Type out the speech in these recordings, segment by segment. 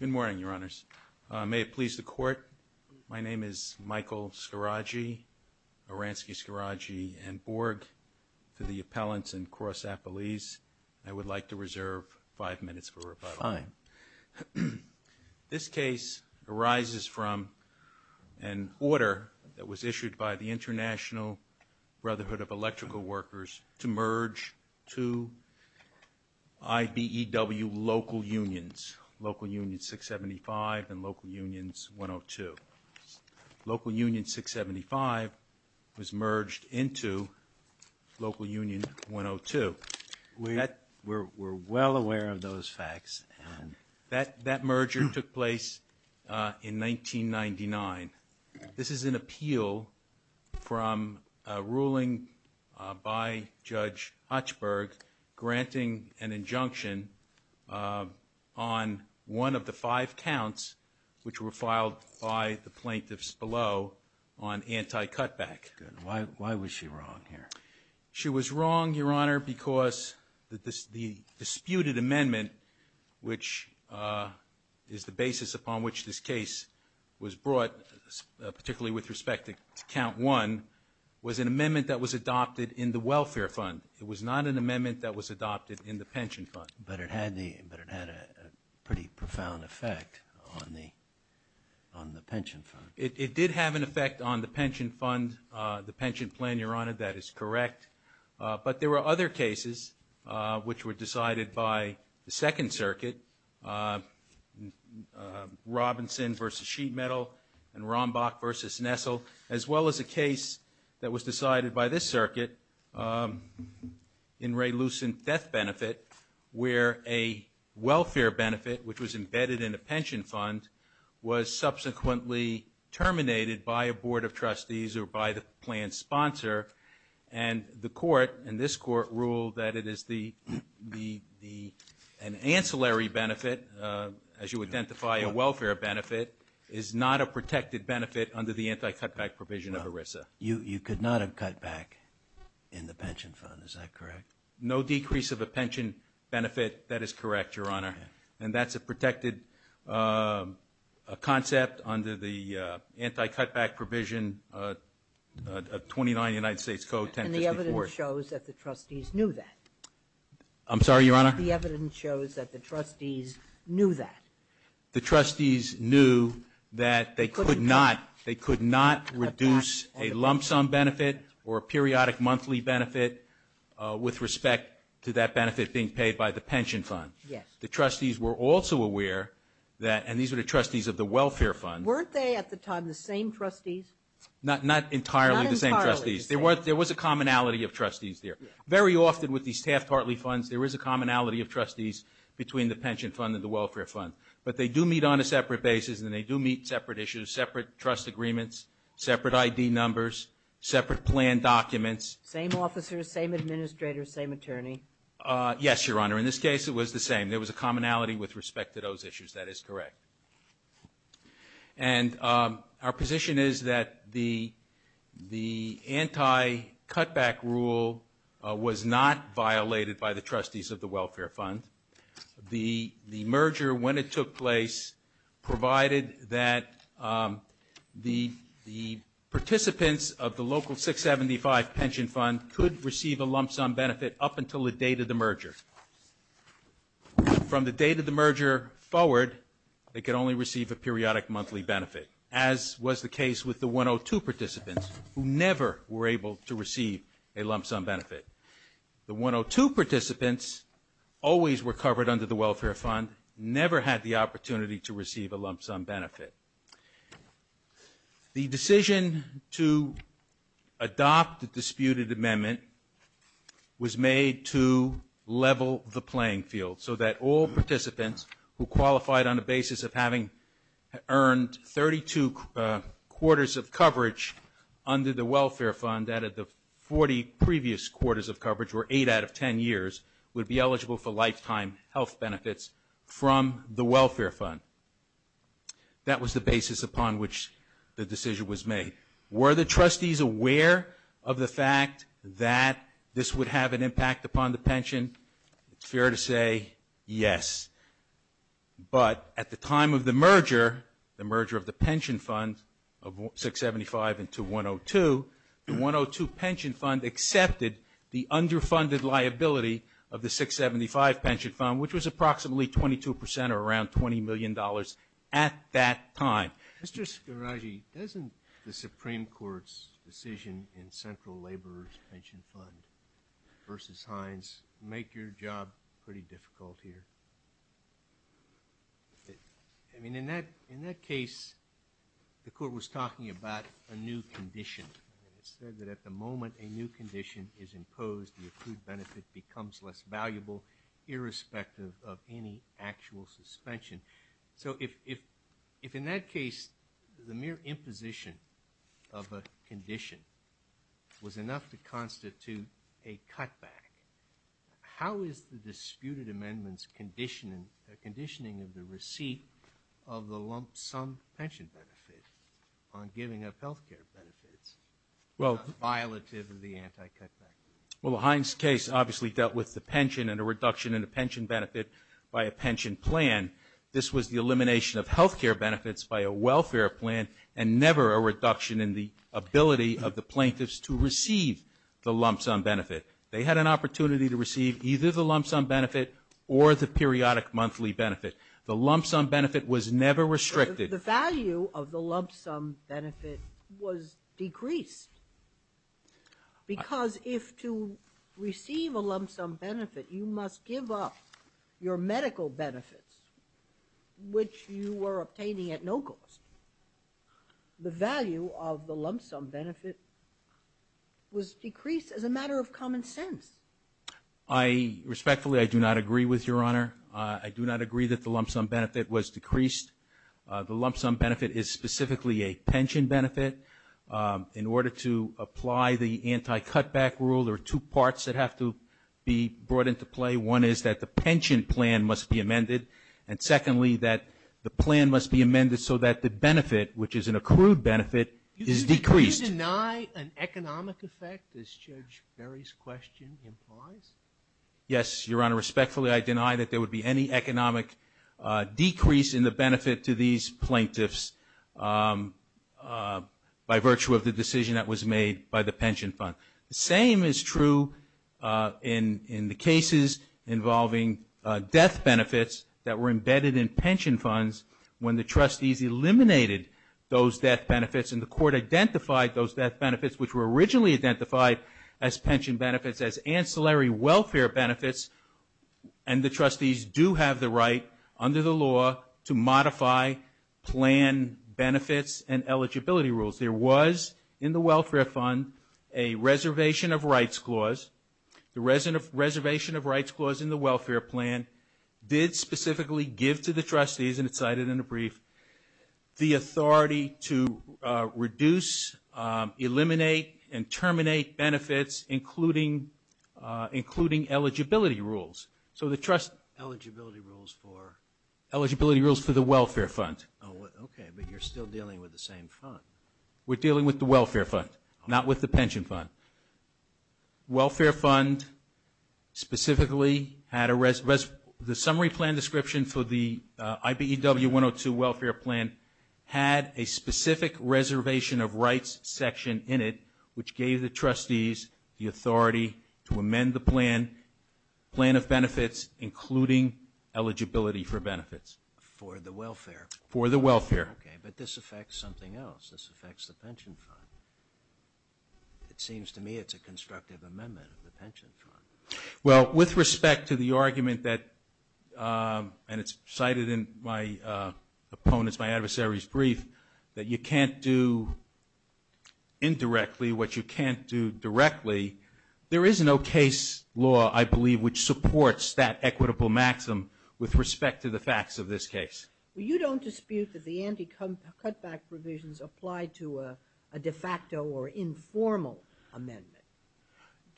Good morning, Your Honors. May it please the Court, my name is Michael Scaraggi, Aransky-Scaraggi and Borg, to the appellants and cross-appellees. I would like to reserve five minutes for rebuttal. This case arises from an order that was issued by the International Brotherhood of Electrical Workers to Local Unions 675 and Local Unions 102. Local Union 675 was merged into Local Union 102. We're well aware of those facts. That merger took place in 1999. This is an order of the five counts, which were filed by the plaintiffs below on anti-cutback. Why was she wrong here? She was wrong, Your Honor, because the disputed amendment, which is the basis upon which this case was brought, particularly with respect to count one, was an amendment that was adopted in the welfare fund. It was not an amendment that was adopted in the pension fund. But it had a pretty profound effect on the pension fund. It did have an effect on the pension fund, the pension plan, Your Honor, that is correct. But there were other cases which were decided by the Second Circuit, Robinson versus Sheet Metal and Rombach versus Nessel, as well as a case that was decided by this circuit in Ray Lucent death benefit, where a welfare benefit, which was embedded in a pension fund, was subsequently terminated by a board of trustees or by the plan sponsor. And the court, and this court, ruled that it is the an ancillary benefit, as you identify a welfare benefit, is not a protected benefit You could not have cut back in the pension fund, is that correct? No decrease of a pension benefit, that is correct, Your Honor. And that's a protected concept under the anti-cutback provision of 29 United States Code 1054. And the evidence shows that the trustees knew that. I'm sorry, Your Honor? The evidence shows that the trustees knew that. The trustees knew that they could not reduce a lump sum benefit or a periodic monthly benefit with respect to that benefit being paid by the pension fund. The trustees were also aware that, and these were the trustees of the welfare fund. Weren't they at the time the same trustees? Not entirely the same trustees. There was a commonality of trustees there. Very often with these half-partly funds, there is a commonality of trustees between the pension fund and the welfare fund. But they do meet on a separate basis, and they do meet separate issues, separate trust agreements, separate ID numbers, separate plan documents. Same officers, same administrators, same attorney? Yes, Your Honor. In this case, it was the same. There was a commonality with respect to those issues. That is correct. And our position is that the anti-cutback rule was not violated by the trustees of the welfare fund. The merger, when it took place, provided that the participants of the local 675 pension fund could receive a lump sum benefit up until the date of the merger. From the date of the merger forward, they could only receive a periodic monthly benefit, as was the case with the 102 participants, who never were able to receive a lump sum benefit. The 102 participants always were covered under the welfare fund, never had the opportunity to receive a lump sum benefit. The decision to adopt the disputed amendment was made to level the playing field, so that all participants who qualified on the basis of having earned 32 quarters of coverage under the welfare fund out of the 40 previous quarters of coverage, or 8 out of 10 years, would be eligible for lifetime health benefits from the welfare fund. That was the basis upon which the decision was made. Were the trustees aware of the fact that this would have an impact upon the pension? It's fair to say yes. But at the time of the merger, the merger of the pension fund of 675 into 102, the 102 pension fund accepted the underfunded liability of the 675 pension fund, which was approximately 22 percent, or around $20 million at that time. Mr. Scoraggi, doesn't the Supreme Court's decision in Central Labor's pension fund versus Hines make your job pretty difficult here? I mean, in that case, the Court was talking about a new condition. It said that at the moment a new condition is imposed, the accrued benefit becomes less valuable irrespective of any actual suspension. So if in that case the mere imposition of a condition was enough to constitute a cutback, how is the disputed amendment's conditioning of the receipt of the lump sum pension benefit on giving up health care benefits not violative of the anti-cutback? Well, the Hines case obviously dealt with the pension and a reduction in the pension benefit by a pension plan. This was the elimination of health care benefits by a welfare plan and never a reduction in the ability of the plaintiffs to receive the lump sum benefit. They had an opportunity to receive either the lump sum benefit or the periodic monthly benefit. The lump sum benefit was never restricted. The value of the lump sum benefit was decreased because if to receive a lump sum benefit, you must give up your medical benefits, which you were obtaining at no cost. The value of the lump sum benefit was decreased as a matter of common sense. Respectfully, I do not agree with Your Honor. I do not agree that the lump sum benefit was decreased. The lump sum benefit is specifically a pension benefit. In order to apply the anti-cutback rule, there are two parts that have to be brought into play. One is that the pension plan must be amended, and secondly, that the plan must be amended so that the benefit, which is an accrued benefit, is decreased. Do you deny an economic effect, as Judge Ferry's question implies? Yes, Your Honor. Respectfully, I deny that there would be any economic decrease in the benefit to these plaintiffs by virtue of the decision that was made by the pension fund. The same is true in the cases involving death benefits that were embedded in pension funds when the trustees eliminated those death benefits and the court identified those death benefits, which were originally identified as pension benefits, as ancillary welfare benefits, and the trustees do have the right, under the law, to modify plan benefits and eligibility rules. There was, in the welfare fund, a reservation of rights clause. The reservation of rights clause in the welfare plan did specifically give to the trustees, and it's cited in the brief, the authority to reduce, eliminate, and terminate benefits, including eligibility rules. So the trust... Eligibility rules for... Eligibility rules for the welfare fund. Oh, okay, but you're still dealing with the same fund. We're dealing with the welfare fund, not with the pension fund. Welfare fund specifically had a... The summary plan description for the IBEW 102 welfare plan had a specific reservation of rights section in it, which gave the trustees the authority to amend the plan, plan of benefits, including eligibility for benefits. For the welfare. For the welfare. Okay, but this affects something else. This affects the pension fund. It seems to me it's a constructive amendment of the pension fund. Well, with respect to the argument that, and it's cited in my opponent's, my adversary's brief, that you can't do indirectly what you can't do directly, there is no case law, I believe, which supports that equitable maximum with respect to the facts of this case. Well, you don't dispute that the anti-cutback provisions apply to a de facto or informal amendment.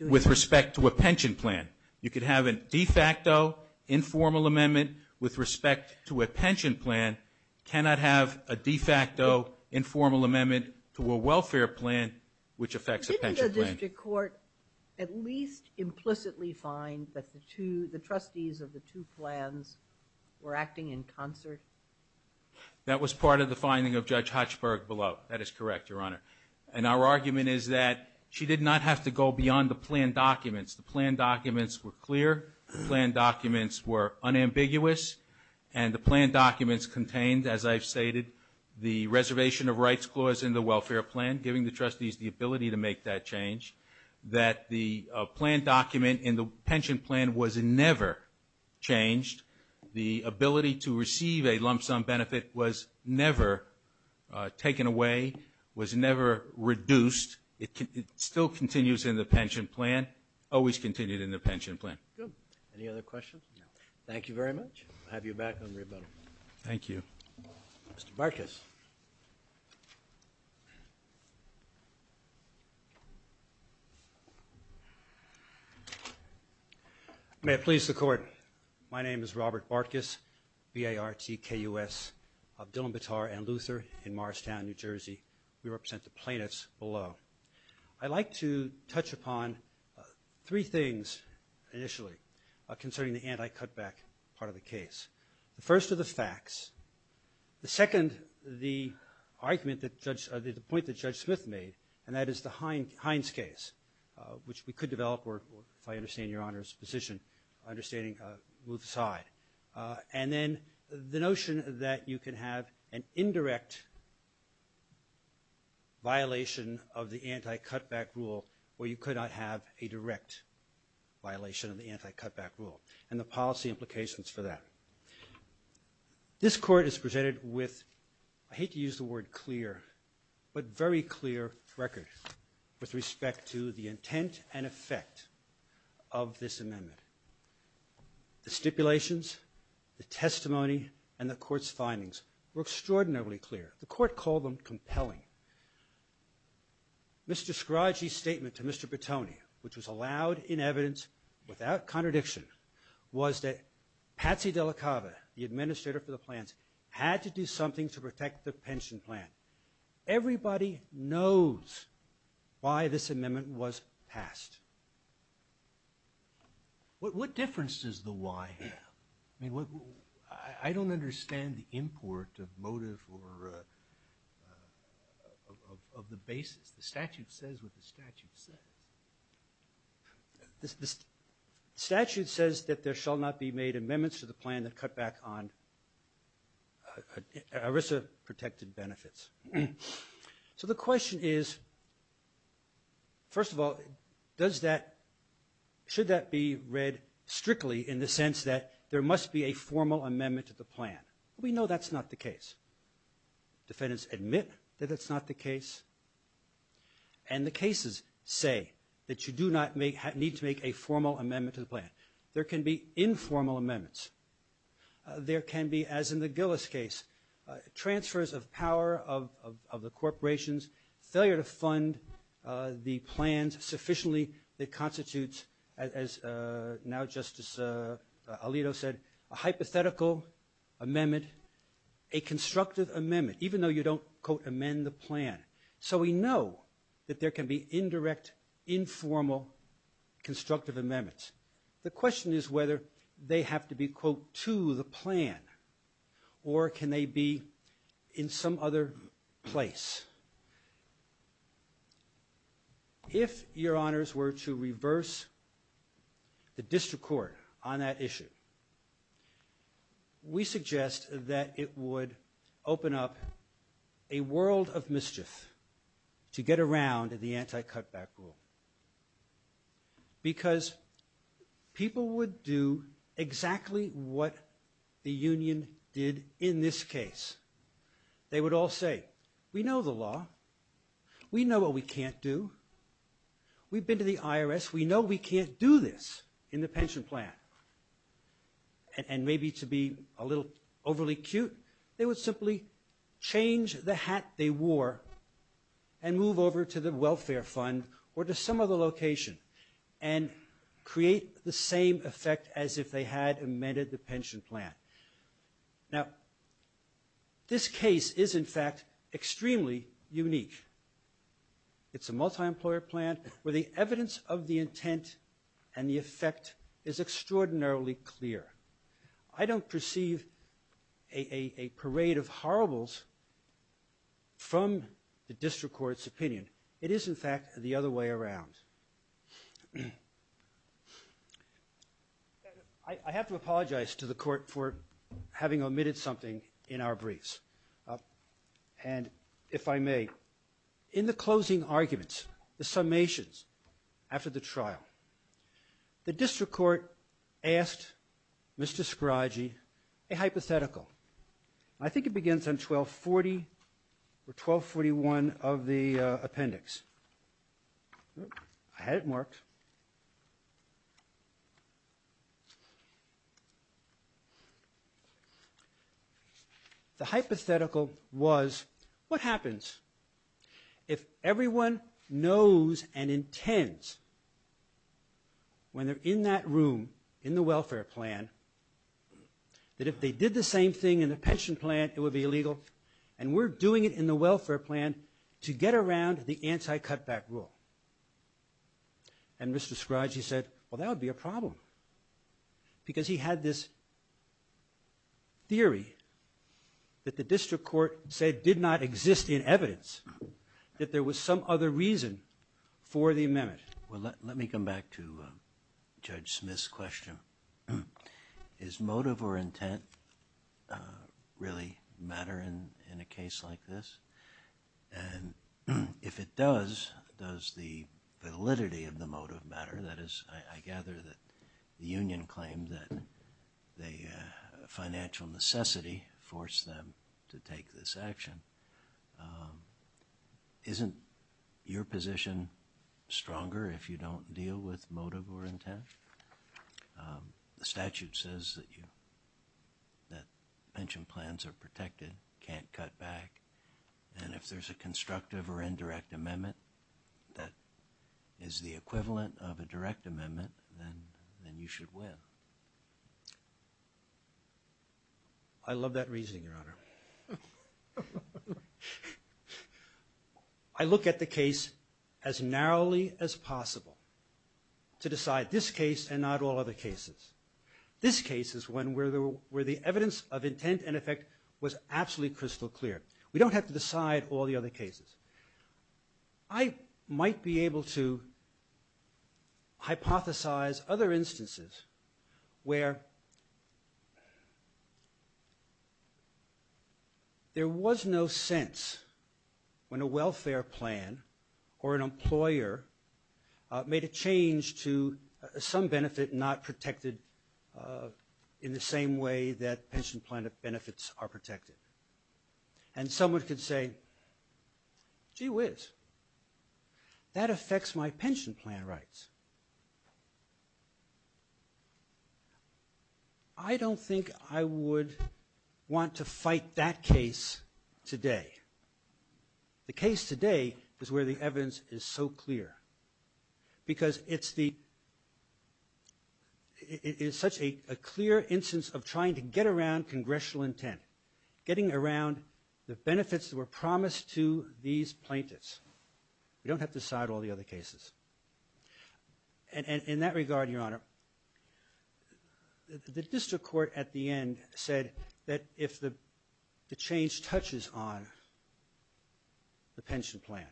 With respect to a pension plan. You could have a de facto informal amendment with respect to a pension plan, cannot have a de facto informal amendment to a welfare plan, which affects a pension plan. Didn't the district court at least implicitly find that the two, the provisions of the two plans were acting in concert? That was part of the finding of Judge Hochberg below. That is correct, Your Honor. And our argument is that she did not have to go beyond the plan documents. The plan documents were clear. The plan documents were unambiguous. And the plan documents contained, as I've stated, the reservation of rights clause in the welfare plan, giving the trustees the ability to make that change, that the plan document in the pension plan was never changed. The ability to receive a lump sum benefit was never taken away, was never reduced. It still continues in the pension plan, always continued in the pension plan. Good. Any other questions? No. Thank you very much. I'll have you back on rebuttal. Thank you. Mr. Bartkus. May it please the Court, my name is Robert Bartkus, B-A-R-T-K-U-S, of Dillon, Bataar & Luther in Marstown, New Jersey. We represent the plaintiffs below. I'd like to touch upon three things initially concerning the anti-cutback part of the case. The first are the facts. The second, the point that Judge Smith made, and that is the Hines case, which we could develop, if I understand Your Honor's position, understanding Ruth's side. And then the notion that you can have an indirect violation of the anti-cutback rule where you could not have a direct violation of the anti-cutback rule and the policy implications for that. This Court is presented with, I hate to use the word clear, but very clear record with respect to the intent and effect of this amendment. The stipulations, the testimony, and the Court's findings were extraordinarily clear. The Court called them compelling. Mr. Scroggie's statement to Mr. Bertoni, which was allowed in evidence without contradiction, was that Patsy DeLaCava, the administrator for the plans, had to do something to protect the pension plan. Everybody knows why this amendment was passed. What difference does the why have? I don't understand the import of motive or of the basis. The statute says what the statute says. The statute says that there shall not be made amendments to the plan that cut back on ERISA-protected benefits. So the question is, first of all, does that, should that be read strictly in the sense that there must be a formal amendment to the plan? We know that's not the case. Defendants admit that that's not the case. And the cases say that you do not need to make a formal amendment to the plan. There can be informal amendments. There can be, as in the Gillis case, transfers of power of the corporations, failure to fund the plans sufficiently that constitutes, as now Justice Alito said, a hypothetical amendment, a constructive amendment, even though you don't, quote, amend the plan. So we know that there can be indirect, informal, constructive amendments. The question is whether they have to be, quote, to the plan, or can they be in some other place? If your honors were to reverse the district court on that issue, we suggest that it would open up a world of mischief to get around the anti-cutback rule because people would do exactly what the union did in this case. They would all say, we know the law. We know what we can't do. We've been to the IRS. We know we can't do this in the pension plan. And maybe to be a little overly cute, they would simply change the hat they wore and move over to the welfare fund or to some other location and create the same effect as if they had amended the pension plan. Now this case is in fact extremely unique. It's a multi-employer plan where the evidence of the intent and the effect is extraordinarily clear. I don't perceive a parade of horribles from the district court's opinion. It is in fact the other way around. I have to apologize to the court for having omitted something in our briefs. And if I may, in the closing arguments, the summations after the trial, the district court asked Mr. Scroggie a hypothetical. I think it begins on 1240 or 1241 of the appendix. I had it marked. The hypothetical was what happens if everyone knows and intends when they're in that room in the welfare plan that if they did the same thing in the pension plan it would be illegal and we're doing it in the welfare plan to get around the problem and Mr. Scroggie said well that would be a problem because he had this theory that the district court said did not exist in evidence that there was some other reason for the amendment. Well let me come back to Judge Smith's question. Is motive or intent really matter in a case like this? And if it does, does the validity of the motive matter? That is I gather that the union claimed that the financial necessity forced them to take this action. Isn't your position stronger if you don't deal with motive or intent? The statute says that pension plans are protected, can't cut back and if there's a constructive or indirect amendment that is the equivalent of a direct amendment then you should win. I love that reasoning, Your Honor. I look at the case as narrowly as possible to decide this case and not all other cases. This case is one where the evidence of intent and effect was absolutely crystal clear. We don't have to decide all the other cases. I might be able to hypothesize other instances where there was no sense when a welfare plan or an employer made a change to some benefit not protected in the same way that pension plan benefits are protected. And someone could say, gee whiz, that affects my pension plan rights. I don't think I would want to fight that case today. The case today is where the evidence is so clear because it's the clear instance of trying to get around congressional intent, getting around the benefits that were promised to these plaintiffs. We don't have to decide all the other cases. In that regard, Your Honor, the district court at the end said that if the change touches on the pension plan,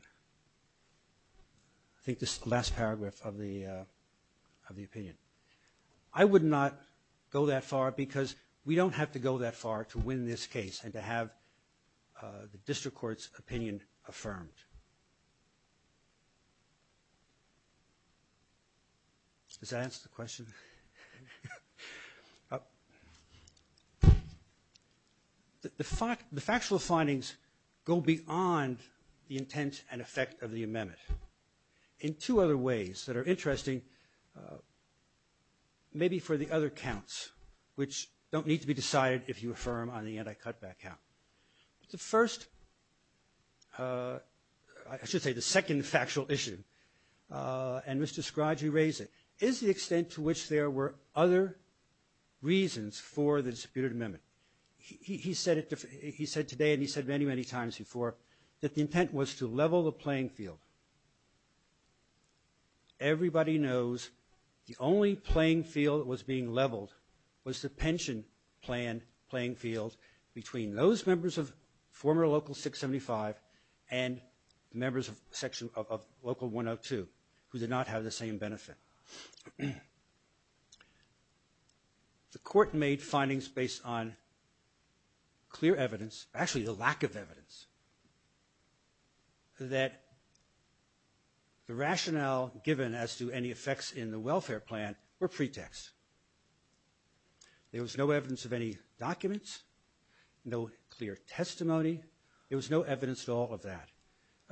I think this is the last paragraph of the opinion. I would not go that far because we don't have to go that far to win this case and to have the district court's opinion affirmed. Does that answer the question? The factual findings go beyond the intent and effect of the amendment in two other ways that are interesting, maybe for the other counts which don't need to be decided if you affirm on the anti-cutback count. The first, I should say the second factual issue, and Mr. Scroggie raised it, is the extent to which there were other reasons for the disputed amendment. He said today and he said many, many times before that the intent was to level the playing field. Everybody knows the only playing field that was being leveled was the pension plan playing field between those members of former Local 675 and members of Local 102 who did not have the same benefit. The court made findings based on clear evidence, actually the lack of evidence, that the rationale given as to any welfare plan were pretext. There was no evidence of any documents, no clear testimony, there was no evidence at all of that.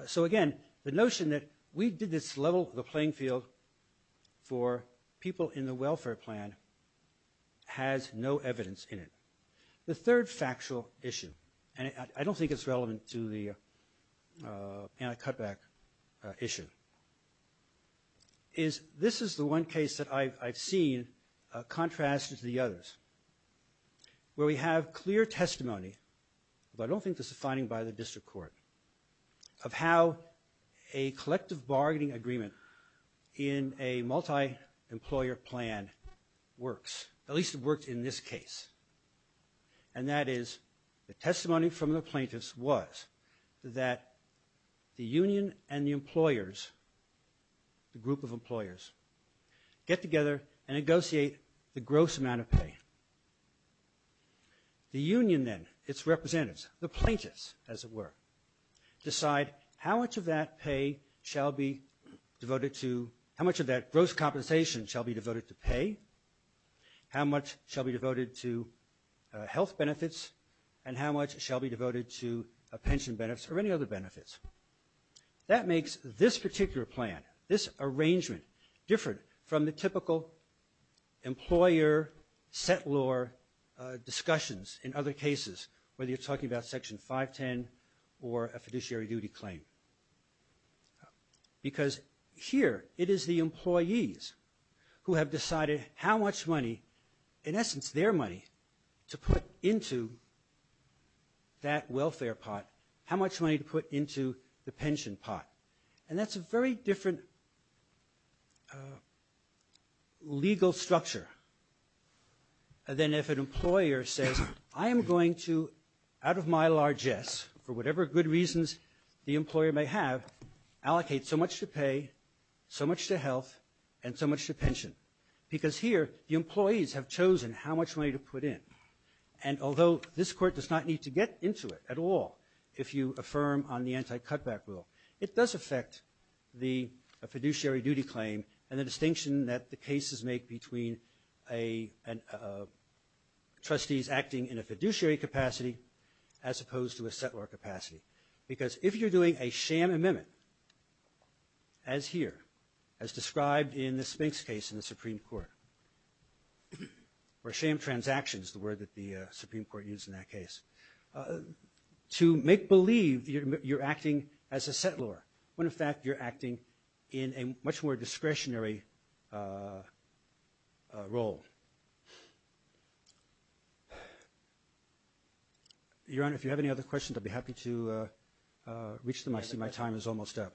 So again, the notion that we did this level the playing field for people in the welfare plan has no evidence in it. The third factual issue, and I don't think it's relevant to the anti-cutback issue, is this is the one case that I've seen contrasted to the others where we have clear testimony, but I don't think this is a finding by the district court, of how a collective bargaining agreement in a multi-employer plan works, at least it worked in this case, and that is the testimony from the plaintiffs was that the union and the employers, the group of employers, get together and negotiate the gross amount of pay. The union then, its representatives, the plaintiffs as it were, decide how much of that pay shall be devoted to, how much of that gross compensation shall be devoted to pay, how much shall be devoted to health benefits, and how much shall be devoted to pension benefits or any other benefits. That makes this particular plan, this arrangement, different from the typical employer settlor discussions in other cases, whether you're talking about Section 510 or a fiduciary duty claim. Because here it is the employees who have decided how much money, in essence their money, to put into that welfare pot, how much money to put into the pension pot. And that's a very different legal structure than if an employer says, I am going to, out of my largesse, for whatever good reasons the employer may have, allocate so much to pay, so much to health, and so much to pension. Because here the employees have chosen how much money to put in. And although this Court does not need to get into it at all if you affirm on the anti-cutback rule, it does affect the fiduciary duty claim and the distinction that the cases make between trustees acting in a fiduciary capacity as opposed to a settlor capacity. Because if you're doing a sham amendment, as here, as described in the Spinks case in the Supreme Court, or sham transactions, the word that the Supreme Court used in that case, to make believe you're acting as a settlor, when in fact you're acting in a much more fiduciary capacity. Your Honor, if you have any other questions, I'd be happy to reach them. I see my time is almost up.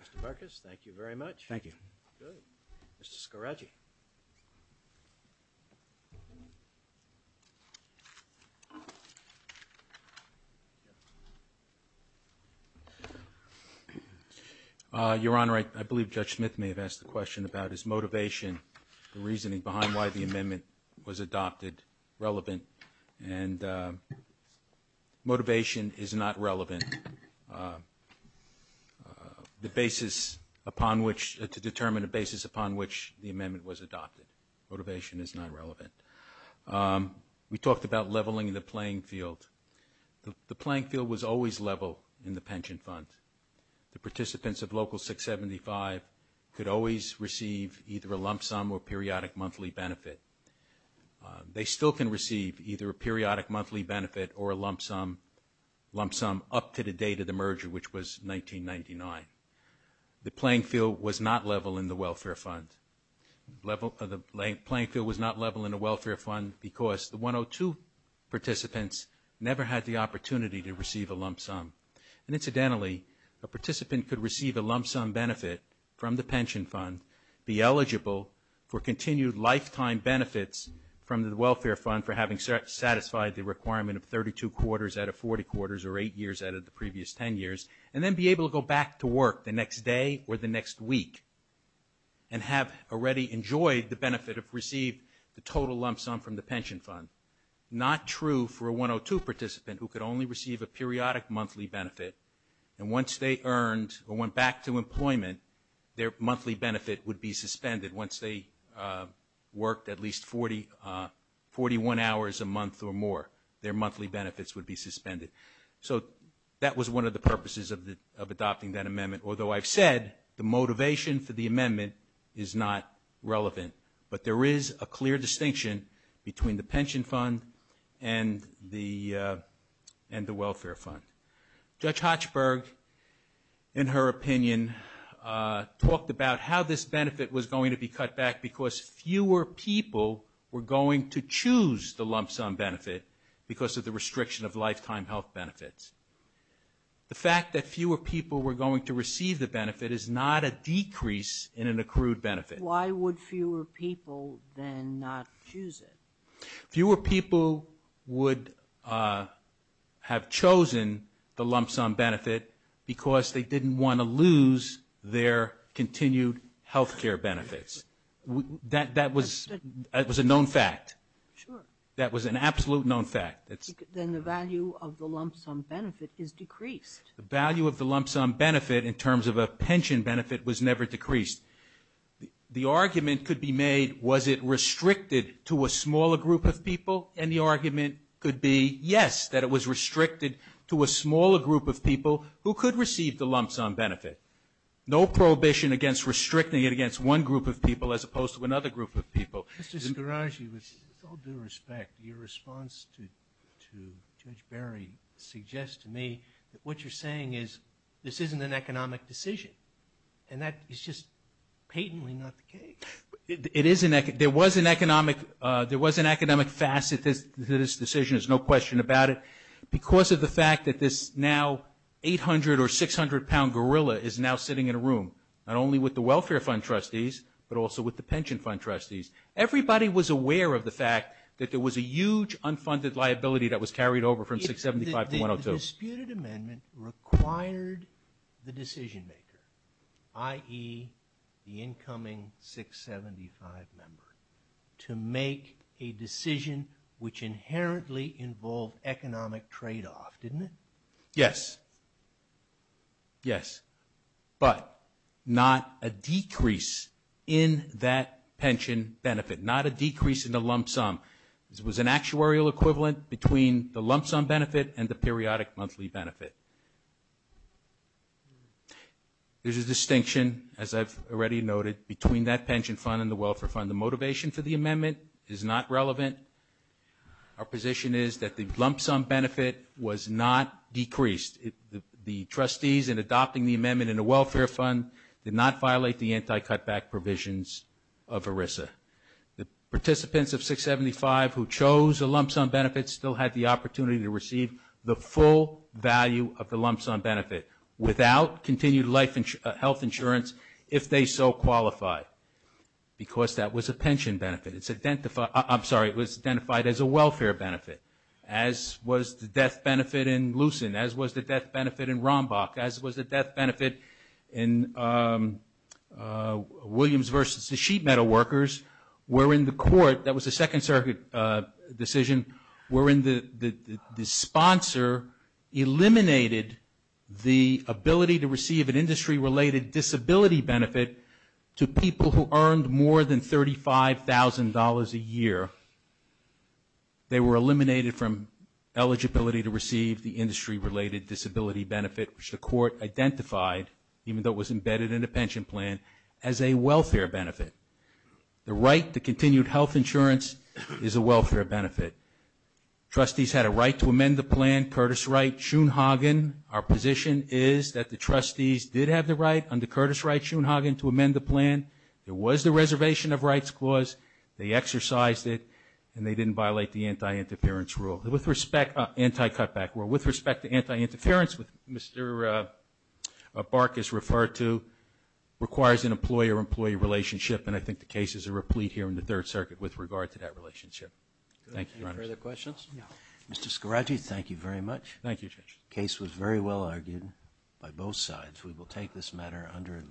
Your Honor, I believe Judge Smith may have asked the question about his motivation, the reasoning behind why the amendment was adopted, relevant. And motivation is not relevant. The basis upon which, to determine a basis upon which the amendment was adopted. Motivation is not relevant. We talked about leveling the playing field. The playing field was always level in the pension fund. The participants of Local 675 could always receive either a lump sum or periodic monthly benefit. They still can receive either a periodic monthly benefit or a lump sum, up to the date of the merger, which was 1999. The playing field was not level in the welfare fund. The playing field was not level in the welfare fund because the 102 participants never had the opportunity to receive a lump sum. And incidentally, a participant could receive a lump sum benefit from the pension fund, be eligible for continued lifetime benefits from the welfare fund for having satisfied the requirement of 32 quarters out of 40 quarters or 8 years out of the previous 10 years, and then be able to go back to work the next day or the next week and have already enjoyed the benefit of receiving the total lump sum from the pension fund. Not true for a 102 participant who could only receive a periodic monthly benefit, and once they earned or went back to employment, their monthly benefit would be suspended. Once they worked at least 41 hours a month or more, their monthly benefits would be suspended. So that was one of the purposes of adopting that amendment, although I've said the motivation for the amendment is not relevant. But there is a clear distinction between the pension fund and the welfare fund. Judge Hochberg, in her opinion, talked about how this benefit was going to be cut back because fewer people were going to choose the lump sum benefit because of the restriction of lifetime health benefits. The fact that fewer people were going to receive the benefit is not a decrease in an accrued benefit. Why would fewer people then not choose it? Fewer people would have chosen the lump sum benefit because they didn't want to lose their continued health care benefits. That was a known fact. Sure. That was an absolute known fact. Then the value of the lump sum benefit is decreased. The value of the lump sum benefit in terms of a pension benefit was never decreased. The argument could be made, was it restricted to a smaller group of people? And the argument could be, yes, that it was restricted to a smaller group of people who could receive the lump sum benefit. No prohibition against restricting it against one group of people as opposed to another group of people. Mr. Scaraggi, with all due respect, your response to Judge Barry suggests to me that what you're saying is this isn't an economic decision. And that is just patently not the case. There was an economic facet to this decision, there's no question about it, because of the fact that this now 800- or 600-pound gorilla is now sitting in a room, not only with the welfare fund trustees but also with the pension fund trustees. Everybody was aware of the fact that there was a huge unfunded liability that was carried over from 675 to 102. The disputed amendment required the decision-maker, i.e., the incoming 675 member, to make a decision which inherently involved economic tradeoff, didn't it? Yes. Yes. But not a decrease in that pension benefit, not a decrease in the lump sum. It was an actuarial equivalent between the lump sum benefit and the periodic monthly benefit. There's a distinction, as I've already noted, between that pension fund and the welfare fund. The motivation for the amendment is not relevant. Our position is that the lump sum benefit was not decreased. The trustees, in adopting the amendment in the welfare fund, did not violate the anti-cutback provisions of ERISA. The participants of 675 who chose a lump sum benefit still had the opportunity to receive the full value of the lump sum benefit without continued health insurance if they so qualify, because that was a pension benefit. I'm sorry, it was identified as a welfare benefit, as was the death benefit in Lucent, as was the death benefit in Rombach, as was the death benefit in Williams v. The Sheet Metal Workers, wherein the court, that was a Second Circuit decision, wherein the sponsor eliminated the ability to receive an industry-related disability benefit to people who earned more than $35,000 a year. They were eliminated from eligibility to receive the industry-related disability benefit, which the court identified, even though it was embedded in the pension plan, as a welfare benefit. The right to continued health insurance is a welfare benefit. Trustees had a right to amend the plan, Curtis Wright, Schoonhagen. Our position is that the trustees did have the right, under Curtis Wright, Schoonhagen, to amend the plan. There was the reservation of rights clause. They exercised it, and they didn't violate the anti-cutback rule. With respect to anti-interference, which Mr. Barkas referred to, requires an employer-employee relationship, and I think the case is a replete here in the Third Circuit with regard to that relationship. Thank you, Your Honor. Any further questions? Mr. Scaratti, thank you very much. Thank you, Judge. The case was very well argued by both sides. We will take this matter under advisement.